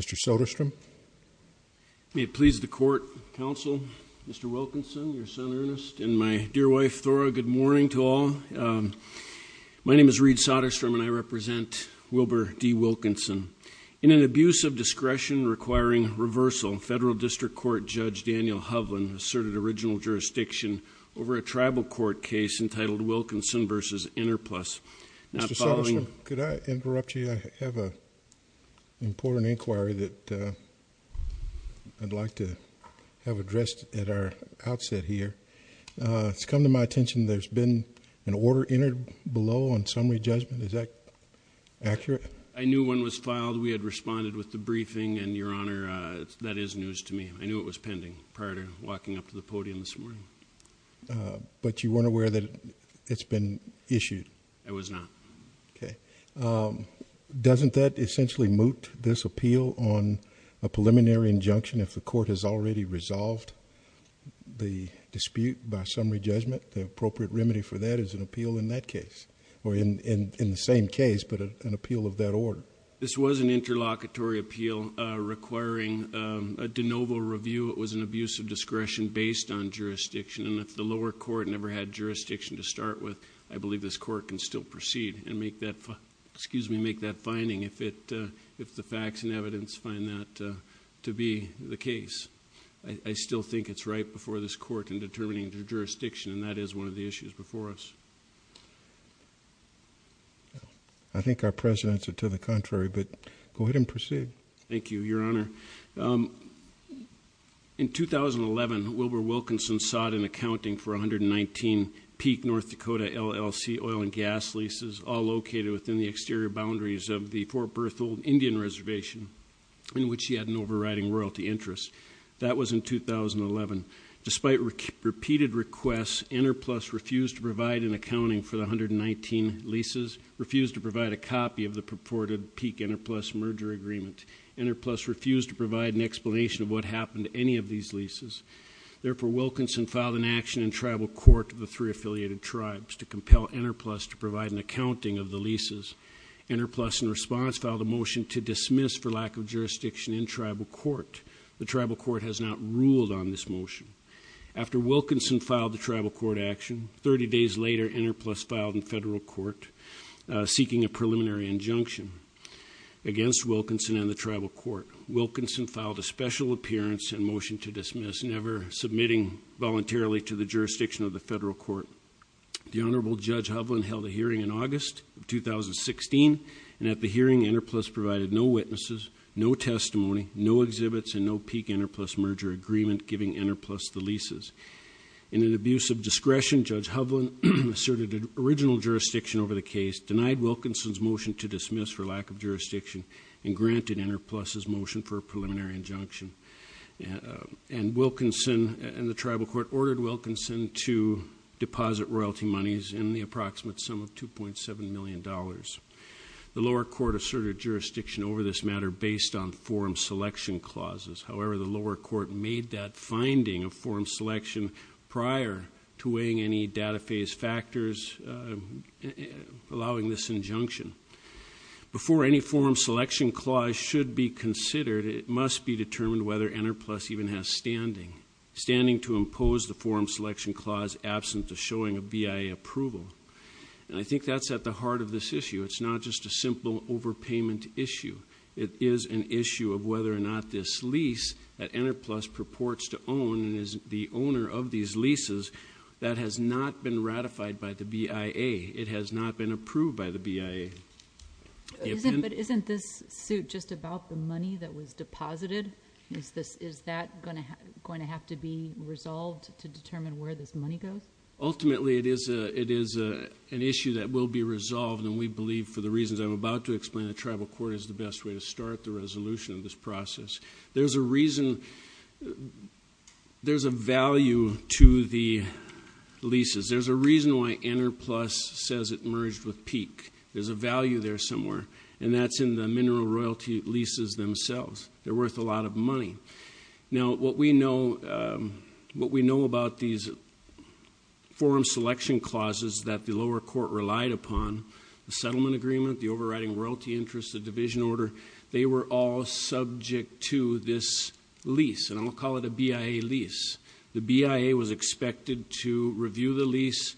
Mr. Soderstrom May it please the Court, Counsel, Mr. Wilkinson, your son Ernest, and my dear wife, Thora, good morning to all. My name is Reed Soderstrom, and I represent Wilbur D. Wilkinson. In an abuse of discretion requiring reversal, Federal District Court Judge Daniel Hovland asserted original jurisdiction over a tribal court case entitled Wilkinson v. Interplus. Could I interrupt you? I have a important inquiry that I'd like to have addressed at our outset here. It's come to my attention. There's been an order entered below on summary judgment. Is that accurate? I knew when was filed. We had responded with the briefing and, Your Honor, that is news to me. I knew it was pending prior to walking up to the podium this morning. But you weren't aware that it's been issued? I was not. Okay. Doesn't that essentially moot this appeal on a preliminary injunction if the court has already resolved the dispute by summary judgment? The appropriate remedy for that is an appeal in that case, or in the same case, but an appeal of that order. This was an interlocutory appeal requiring a de novo review. It was an abuse of discretion based on jurisdiction, and if the lower court never had jurisdiction to start with, I believe this court can still proceed and make that finding, if the facts and evidence find that to be the case. I still think it's right before this court in determining the jurisdiction, and that is one of the issues before us. I think our presidents are to the contrary, but go ahead and proceed. Thank you, Your Honor. In 2011, Wilbur Wilkinson sought an accounting for 119 Peak North Dakota LLC oil and gas leases, all located within the exterior boundaries of the Fort Berthold Indian Reservation, in which he had an overriding royalty interest. That was in 2011. Despite repeated requests, Interplus refused to provide an accounting for the 119 leases, refused to provide a copy of the purported Peak Interplus merger agreement. Interplus refused to provide an explanation of what happened to any of these leases. Therefore, Wilkinson filed an action in tribal court of the three affiliated tribes to compel Interplus to provide an accounting of the leases. Interplus, in response, filed a motion to dismiss for lack of jurisdiction in tribal court. The tribal court has not ruled on this motion. After Wilkinson filed the tribal court action, 30 days later, Interplus filed in federal court seeking a preliminary injunction against Wilkinson and the tribal court. Wilkinson filed a special appearance and motion to dismiss, never submitting voluntarily to the jurisdiction of the federal court. The Honorable Judge Hovland held a hearing in August 2016, and at the hearing, Interplus provided no witnesses, no testimony, no exhibits, and no Peak Interplus merger agreement, giving Interplus the leases. In an abuse of discretion, Judge Hovland asserted original jurisdiction over the case, denied Wilkinson's motion to dismiss for lack of jurisdiction, and granted Interplus's motion for a preliminary injunction. And Wilkinson and the tribal court ordered Wilkinson to deposit royalty monies in the approximate sum of 2.7 million dollars. The lower court asserted jurisdiction over this matter based on forum selection clauses. However, the lower court made that finding of forum selection prior to weighing any data phase factors allowing this injunction. Before any forum selection clause should be considered, it must be determined whether Interplus even has standing, standing to impose the forum selection clause absent of showing a BIA approval. And I think that's at the heart of this issue. It's not just a simple overpayment issue. It is an issue of whether or not this lease that Interplus purports to own, and is the owner of these leases, that has not been ratified by the BIA. It has not been approved by the BIA. But isn't this suit just about the money that was deposited? Is this, is that going to have to be resolved to determine where this money goes? Ultimately, it is a, it is a, an issue that will be resolved, and we believe, for the reasons I'm about to explain, the tribal court is the best way to start the resolution of this process. There's a reason, there's a value to the leases. There's a reason why Interplus says it merged with Peak. There's a value there somewhere, and that's in the mineral royalty leases themselves. They're worth a lot of money. Now what we know, what we know about these forum selection clauses that the lower court relied upon, the settlement agreement, the overriding royalty interest, the division order, they were all subject to this lease, and I'll call it a BIA lease. The BIA was expected to review the lease,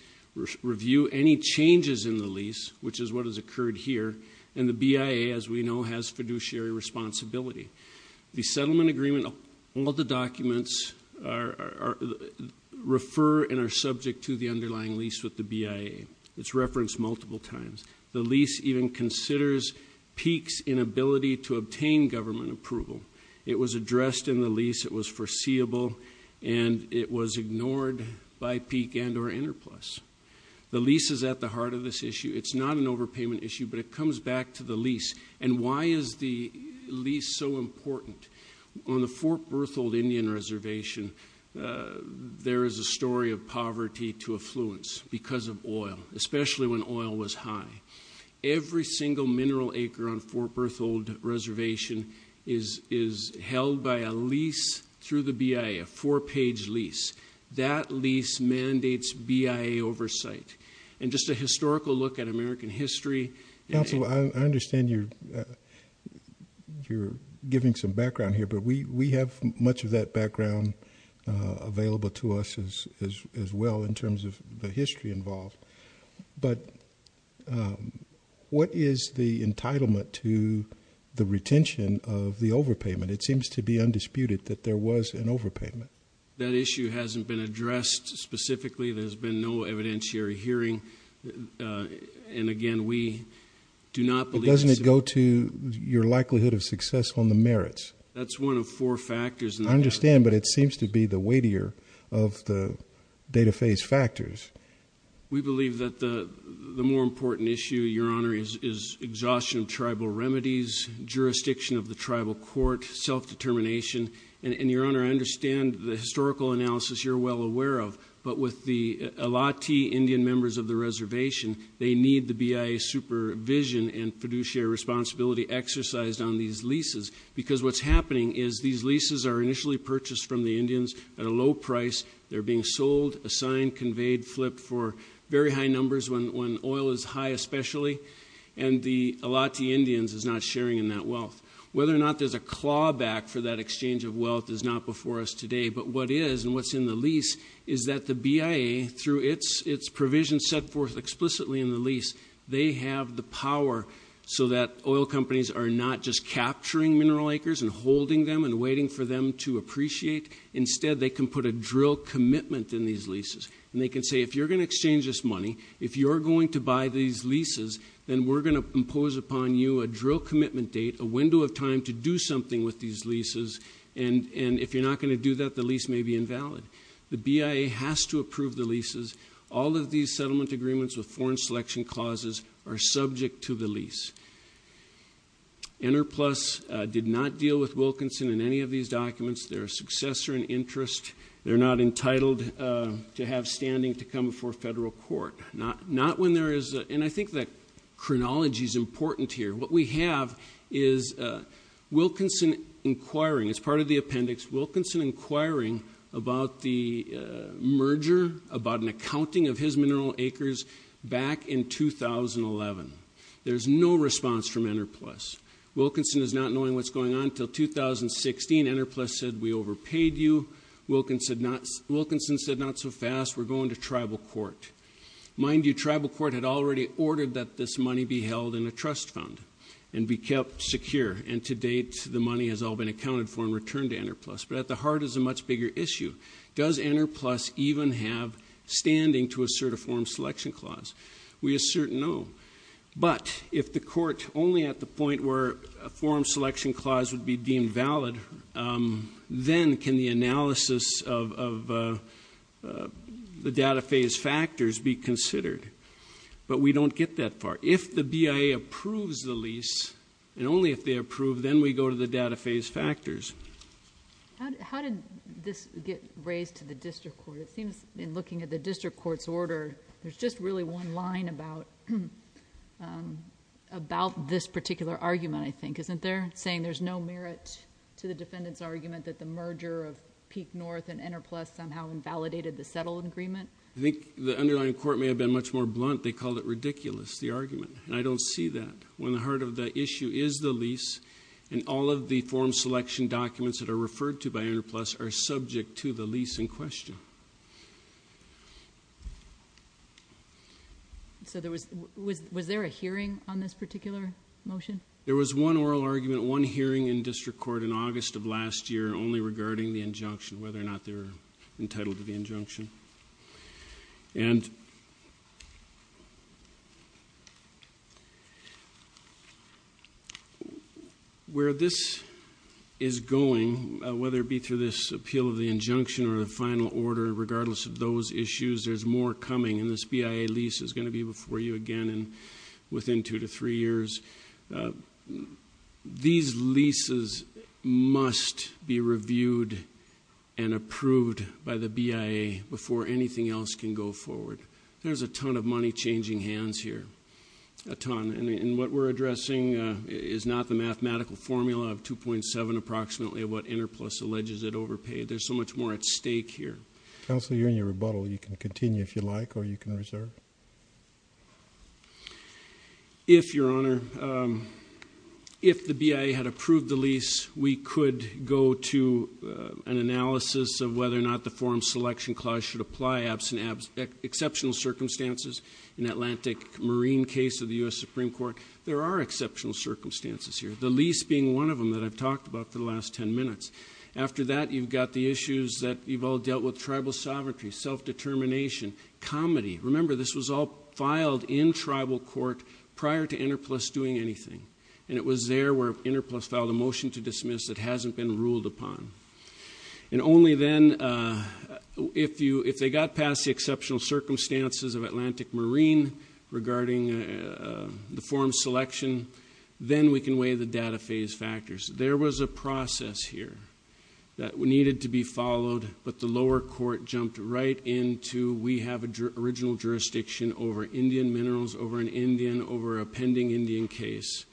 review any changes in the lease, which is what has occurred here, and the BIA, as we know, has fiduciary responsibility. The settlement agreement, all the documents, are, are, are, refer and are subject to the underlying lease with the BIA. It's referenced multiple times. The lease even considers Peak's inability to obtain government approval. It was addressed in the lease, it was foreseeable, and it was ignored by Peak and or Interplus. The lease is at the heart of this issue. It's not an overpayment issue, but it comes back to the lease, and why is the lease so important? On the Fort Berthold Indian Reservation, there is a story of poverty to affluence because of oil, especially when oil was high. Every single mineral acre on Fort Berthold Reservation is, is held by a lease through the BIA, a four-page lease. That lease mandates BIA oversight, and just a historical look at American history. Counselor, I understand you're, you're giving some background here, but we, we have much of that background available to us as, as, as well in terms of the history involved, but what is the entitlement to the retention of the overpayment? It seems to be undisputed that there was an overpayment. That issue hasn't been addressed specifically. There's been no evidentiary hearing, and again, we do not believe. Doesn't it go to your likelihood of success on the merits? That's one of four factors. I understand, but it seems to be the weightier of the data phase factors. We believe that the, the more important issue, Your Honor, is, is exhaustion of tribal remedies, jurisdiction of the tribal court, self-determination, and, and Your Honor, I understand the historical analysis you're well aware of, but with the BIA supervision and fiduciary responsibility exercised on these leases, because what's happening is these leases are initially purchased from the Indians at a low price. They're being sold, assigned, conveyed, flipped for very high numbers when, when oil is high, especially, and the Allotte Indians is not sharing in that wealth. Whether or not there's a clawback for that exchange of wealth is not before us today, but what is, and what's in the lease, is that the BIA, through its, its provisions set forth explicitly in the lease, they have the power so that oil companies are not just capturing mineral acres and holding them and waiting for them to appreciate. Instead, they can put a drill commitment in these leases, and they can say, if you're going to exchange this money, if you're going to buy these leases, then we're going to impose upon you a drill commitment date, a window of time to do something with these leases, and, and if you're not going to do that, the lease may be invalid. The BIA has to approve the leases. All of these settlement agreements with foreign selection clauses are subject to the lease. Interplus did not deal with Wilkinson in any of these documents. They're a successor in interest. They're not entitled to have standing to come before federal court. Not, not when there is, and I think that chronology is important here. What we have is Wilkinson inquiring, as part of the appendix, Wilkinson inquiring about the merger, about an accounting of his mineral acres back in 2011. There's no response from Interplus. Wilkinson is not knowing what's going on until 2016. Interplus said, we overpaid you. Wilkinson said not, Wilkinson said, not so fast. We're going to tribal court. Mind you, tribal court had already ordered that this money be held in a trust fund and be kept secure, and to date, the money has all been accounted for and returned to Interplus. But at the heart is a much bigger issue. Does Interplus even have standing to assert a foreign selection clause? We assert no. But if the court, only at the point where a foreign selection clause would be deemed valid, then can the analysis of the data phase factors be considered. But we don't get that far. If the BIA approves the lease, and only if they approve, then we go to the data phase factors. How did this get raised to the district court? It seems in looking at the district court's order, there's just really one line about this particular argument, I think. Isn't there, saying there's no merit to the defendant's argument that the merger of Peak North and Interplus somehow invalidated the settlement agreement? I think the underlying court may have been much more blunt. They called it ridiculous, the argument. And I don't see that. When the heart of the issue is the lease, and all of the foreign selection documents that are referred to by Interplus are subject to the lease in question. So there was, was there a hearing on this particular motion? There was one oral argument, one hearing in district court in August of last year, only regarding the injunction, whether or not they were entitled to the injunction. And where this is going, whether it be through this appeal of the injunction, or the final order, regardless of those issues, there's more coming. And this BIA lease is going to be before you again within two to three years. These leases must be reviewed and approved by the BIA before anything else can go forward. There's a ton of money changing hands here. A ton. And what we're addressing is not the mathematical formula of 2.7 approximately of what Interplus alleges it overpaid. There's so much more at stake here. Counselor, you're in your rebuttal. You can continue if you like, or you can reserve. If, Your Honor, if the BIA had approved the lease, we could go to an analysis of whether or not the forum selection clause should apply, absent exceptional circumstances in Atlantic Marine case of the U.S. Supreme Court. There are exceptional circumstances here, the lease being one of them that I've talked about for the last ten minutes. After that, you've got the issues that you've all dealt with, tribal sovereignty, self-determination, comedy. Remember, this was all filed in tribal court prior to Interplus doing anything. And it was there where Interplus filed a motion to dismiss that hasn't been ruled upon. And only then, if they got past the exceptional circumstances of Atlantic Marine regarding the forum selection, then we can weigh the data phase factors. There was a process here that needed to be followed, but the lower court jumped right into we have original jurisdiction over Indian minerals, over an Indian, over a pending Indian case,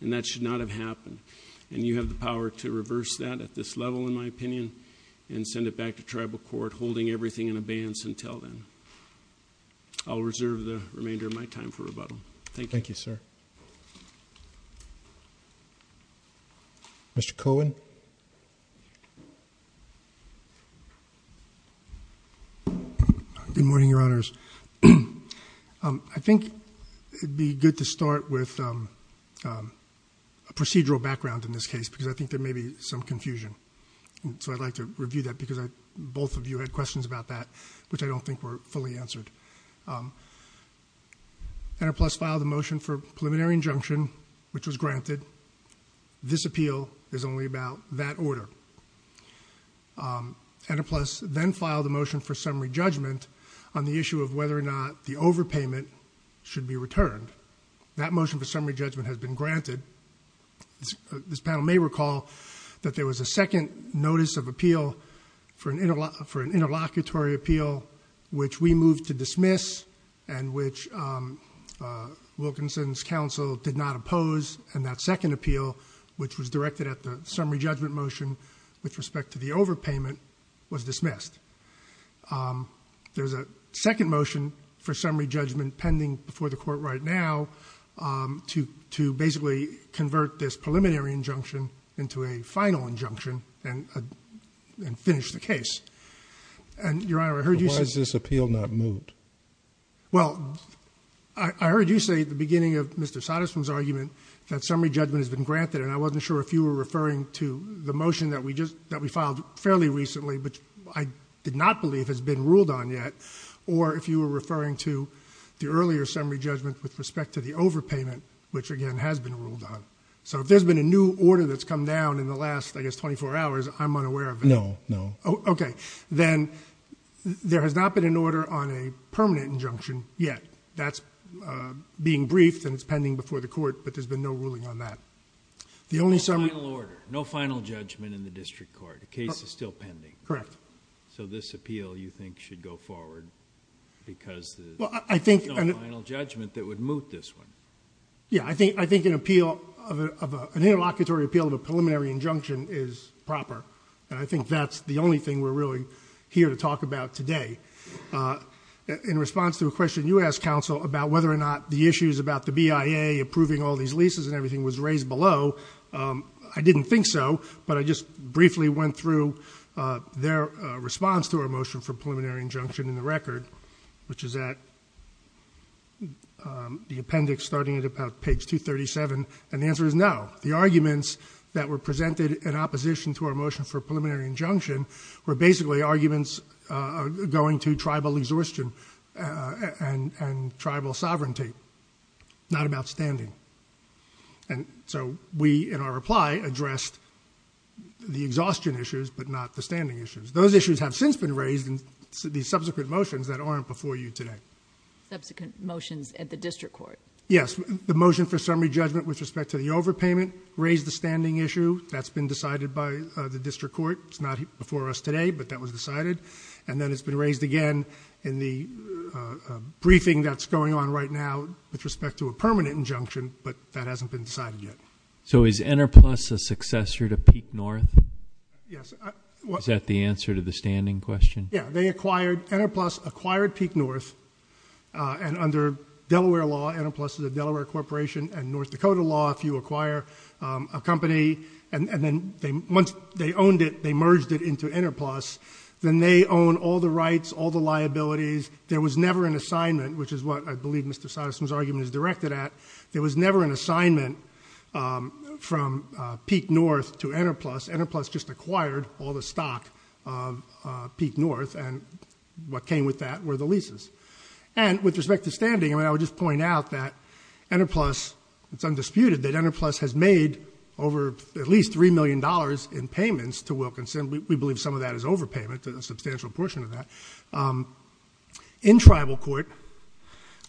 and that should not have happened. And you have the power to reverse that at this level, in my opinion, and send it back to tribal court, holding everything in abeyance until then. I'll reserve the remainder of my time for rebuttal. Thank you. Thank you, sir. Mr. Cohen. Good morning, your honors. I think it'd be good to start with a procedural background in this case, because I think there may be some confusion. So I'd like to review that, because both of you had questions about that, which I don't think were fully answered. Enterplus filed a motion for preliminary injunction, which was granted. This appeal is only about that order. Enterplus then filed a motion for summary judgment on the issue of whether or not the overpayment should be returned. That motion for summary judgment has been granted. This panel may recall that there was a second notice of appeal for dismiss, and which Wilkinson's counsel did not oppose. And that second appeal, which was directed at the summary judgment motion, with respect to the overpayment, was dismissed. There's a second motion for summary judgment pending before the court right now to basically convert this preliminary injunction into a final injunction and finish the case. And your honor, I heard you say- Well, I heard you say at the beginning of Mr. Satterstrom's argument that summary judgment has been granted. And I wasn't sure if you were referring to the motion that we filed fairly recently, which I did not believe has been ruled on yet. Or if you were referring to the earlier summary judgment with respect to the overpayment, which again has been ruled on. So if there's been a new order that's come down in the last, I guess, 24 hours, I'm unaware of it. No, no. Okay, then there has not been an order on a permanent injunction yet. That's being briefed and it's pending before the court, but there's been no ruling on that. The only summary- No final judgment in the district court. The case is still pending. Correct. So this appeal, you think, should go forward because there's no final judgment that would moot this one. Yeah, I think an interlocutory appeal of a preliminary injunction is proper. And I think that's the only thing we're really here to talk about today. In response to a question you asked, counsel, about whether or not the issues about the BIA approving all these leases and everything was raised below. I didn't think so, but I just briefly went through their response to our motion for preliminary injunction in the record, which is at the appendix starting at about page 237, and the answer is no. The arguments that were presented in opposition to our motion for preliminary injunction were basically arguments going to tribal exhaustion and tribal sovereignty, not about standing. And so we, in our reply, addressed the exhaustion issues, but not the standing issues. Those issues have since been raised in the subsequent motions that aren't before you today. Subsequent motions at the district court. Yes, the motion for summary judgment with respect to the overpayment raised the standing issue. That's been decided by the district court. It's not before us today, but that was decided. And then it's been raised again in the briefing that's going on right now with respect to a permanent injunction, but that hasn't been decided yet. So is Interplus a successor to Peak North? Yes. Is that the answer to the standing question? Yeah, Interplus acquired Peak North. And under Delaware law, Interplus is a Delaware corporation, and North Dakota law, if you acquire a company, and then once they owned it, they merged it into Interplus, then they own all the rights, all the liabilities. There was never an assignment, which is what I believe Mr. Satterson's argument is directed at. There was never an assignment from Peak North to Interplus. Interplus just acquired all the stock of Peak North, and what came with that were the leases. And with respect to standing, I would just point out that Interplus, it's undisputed that Interplus has made over at least $3 million in payments to Wilkinson. We believe some of that is overpayment, a substantial portion of that. In tribal court,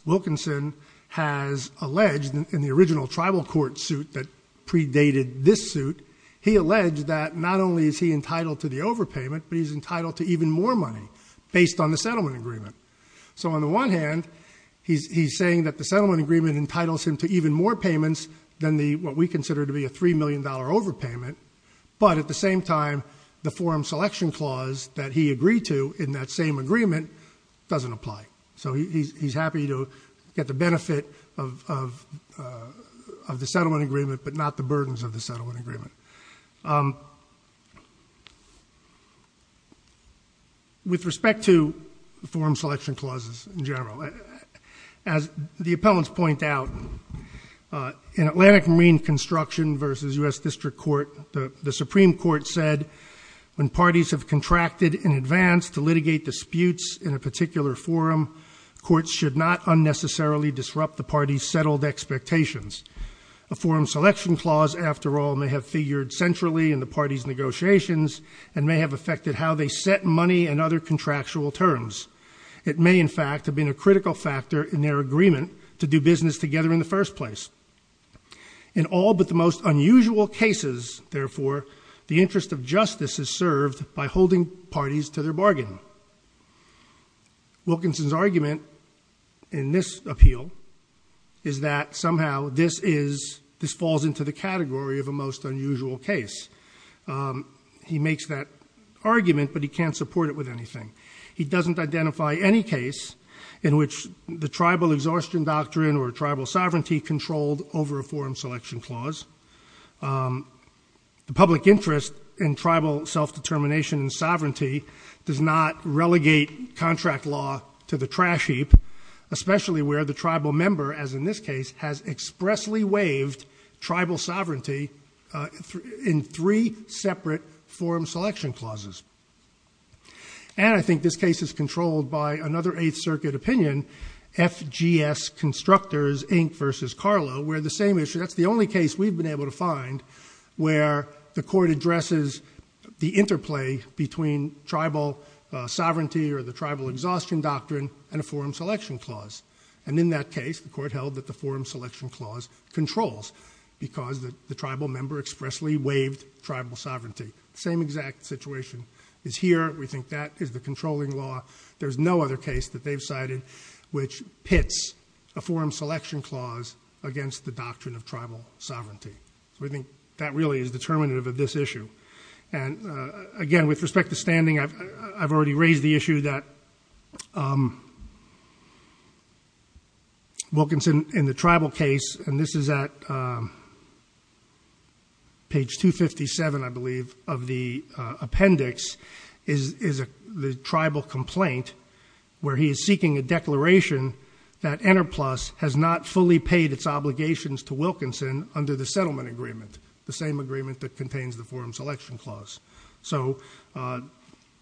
Wilkinson has alleged in the original tribal court suit that predated this suit. He alleged that not only is he entitled to the overpayment, but he's entitled to even more money based on the settlement agreement. So on the one hand, he's saying that the settlement agreement entitles him to even more payments than what we consider to be a $3 million overpayment. But at the same time, the forum selection clause that he agreed to in that same agreement doesn't apply. So he's happy to get the benefit of the settlement agreement, but not the burdens of the settlement agreement. With respect to forum selection clauses in general, as the appellants point out, in Atlantic Marine Construction versus US District Court, the Supreme Court said, when parties have contracted in advance to litigate disputes in a particular forum, courts should not unnecessarily disrupt the party's settled expectations. A forum selection clause, after all, may have figured centrally in the party's negotiations and may have affected how they set money and other contractual terms. It may, in fact, have been a critical factor in their agreement to do business together in the first place. In all but the most unusual cases, therefore, the interest of justice is served by holding parties to their bargain. Wilkinson's argument in this appeal is that somehow this falls into the category of a most unusual case. He makes that argument, but he can't support it with anything. He doesn't identify any case in which the tribal exhaustion doctrine or tribal sovereignty controlled over a forum selection clause. The public interest in tribal self-determination and sovereignty does not relegate contract law to the trash heap, especially where the tribal member, as in this case, has expressly waived tribal sovereignty in three separate forum selection clauses. And I think this case is controlled by another Eighth Circuit opinion, FGS Constructors, Inc. versus Carlo, where the same issue, that's the only case we've been able to find, where the court addresses the interplay between tribal sovereignty or the tribal exhaustion doctrine and a forum selection clause. And in that case, the court held that the forum selection clause controls, because the tribal member expressly waived tribal sovereignty. Same exact situation is here. We think that is the controlling law. There's no other case that they've cited which pits a forum selection clause against the doctrine of tribal sovereignty. We think that really is determinative of this issue. And again, with respect to standing, I've already raised the issue that Wilkinson in the tribal case, and this is at page 257, I believe, of the appendix, is the tribal complaint where he is seeking a declaration that Interplus has not fully paid its obligations to Wilkinson under the settlement agreement, the same agreement that contains the forum selection clause. So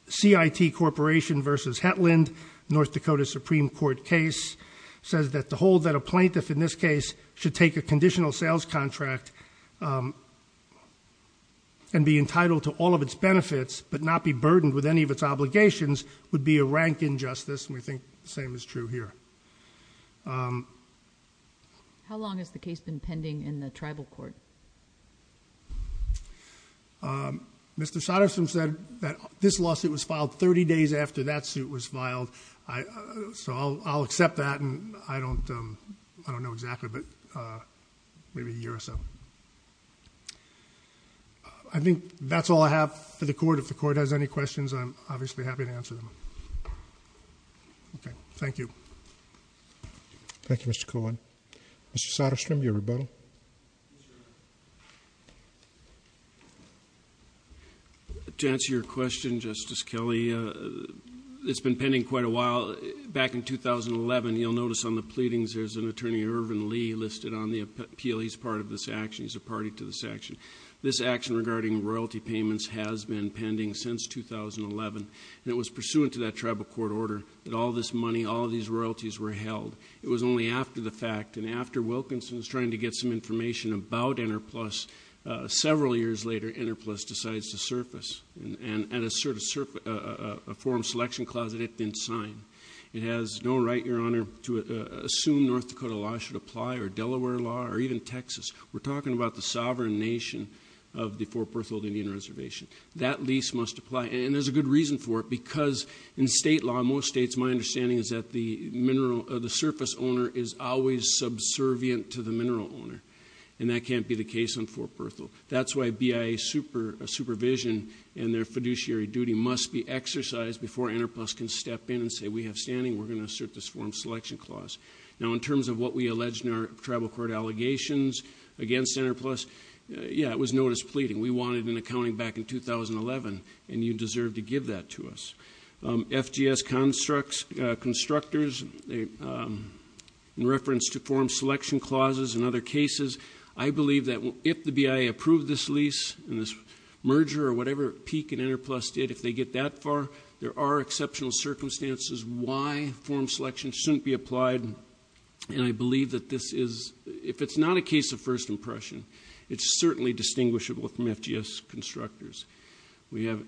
CIT Corporation versus Hetland, North Dakota Supreme Court case, says that the hold that a plaintiff in this case should take a conditional sales contract and be entitled to all of its benefits, but not be burdened with any of its obligations, would be a rank injustice. And we think the same is true here. How long has the case been pending in the tribal court? Mr. Satterson said that this lawsuit was filed 30 days after that suit was filed. So I'll accept that, and I don't know exactly, but maybe a year or so. I think that's all I have for the court. If the court has any questions, I'm obviously happy to answer them. Okay, thank you. Thank you, Mr. Cohen. Mr. Satterstrom, your rebuttal. To answer your question, Justice Kelly, it's been pending quite a while. Back in 2011, you'll notice on the pleadings there's an attorney, Irvin Lee, listed on the appeal. He's part of this action. He's a party to this action. This action regarding royalty payments has been pending since 2011, and it was pursuant to that tribal court order that all this money, all these royalties were held. It was only after the fact, and after Wilkinson was trying to get some information about Interplus, several years later, Interplus decides to surface, and a form selection clause that it didn't sign. It has no right, your honor, to assume North Dakota law should apply, or Delaware law, or even Texas. We're talking about the sovereign nation of the Fort Berthold Indian Reservation. That lease must apply, and there's a good reason for it, because in state law, most states, my understanding is that the surface owner is always subservient to the mineral owner. And that can't be the case on Fort Berthold. That's why BIA supervision and their fiduciary duty must be exercised before Interplus can step in and say, we have standing. We're going to assert this form selection clause. Now, in terms of what we allege in our tribal court allegations against Interplus, yeah, it was notice pleading. We wanted an accounting back in 2011, and you deserve to give that to us. FGS constructors, in reference to form selection clauses and other cases. I believe that if the BIA approved this lease, and this merger, or whatever Peak and Interplus did, if they get that far, there are exceptional circumstances why form selection shouldn't be applied. And I believe that this is, if it's not a case of first impression, it's certainly distinguishable from FGS constructors. We have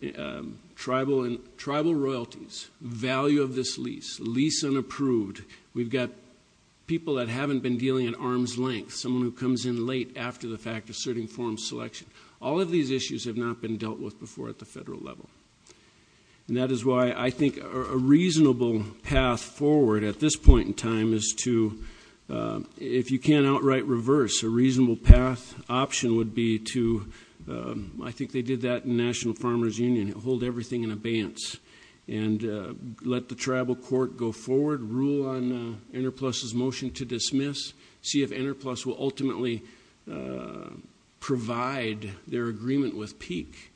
tribal royalties, value of this lease, lease unapproved. We've got people that haven't been dealing at arm's length. Someone who comes in late after the fact asserting form selection. All of these issues have not been dealt with before at the federal level. And that is why I think a reasonable path forward at this point in time is to, if you can't outright reverse, a reasonable path option would be to, I think they did that in National Farmers Union, hold everything in abeyance. And let the tribal court go forward, rule on Interplus's motion to dismiss. See if Interplus will ultimately provide their agreement with Peak.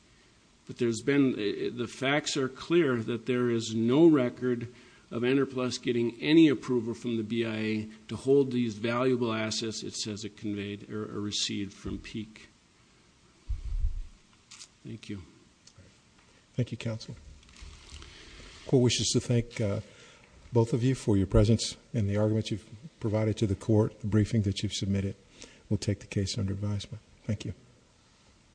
But there's been, the facts are clear that there is no record of Interplus getting any approval from the BIA to hold these valuable assets it says it conveyed or received from Peak. Thank you. Thank you, counsel. The court wishes to thank both of you for your presence and the arguments you've provided to the court. The briefing that you've submitted will take the case under advisement. Thank you.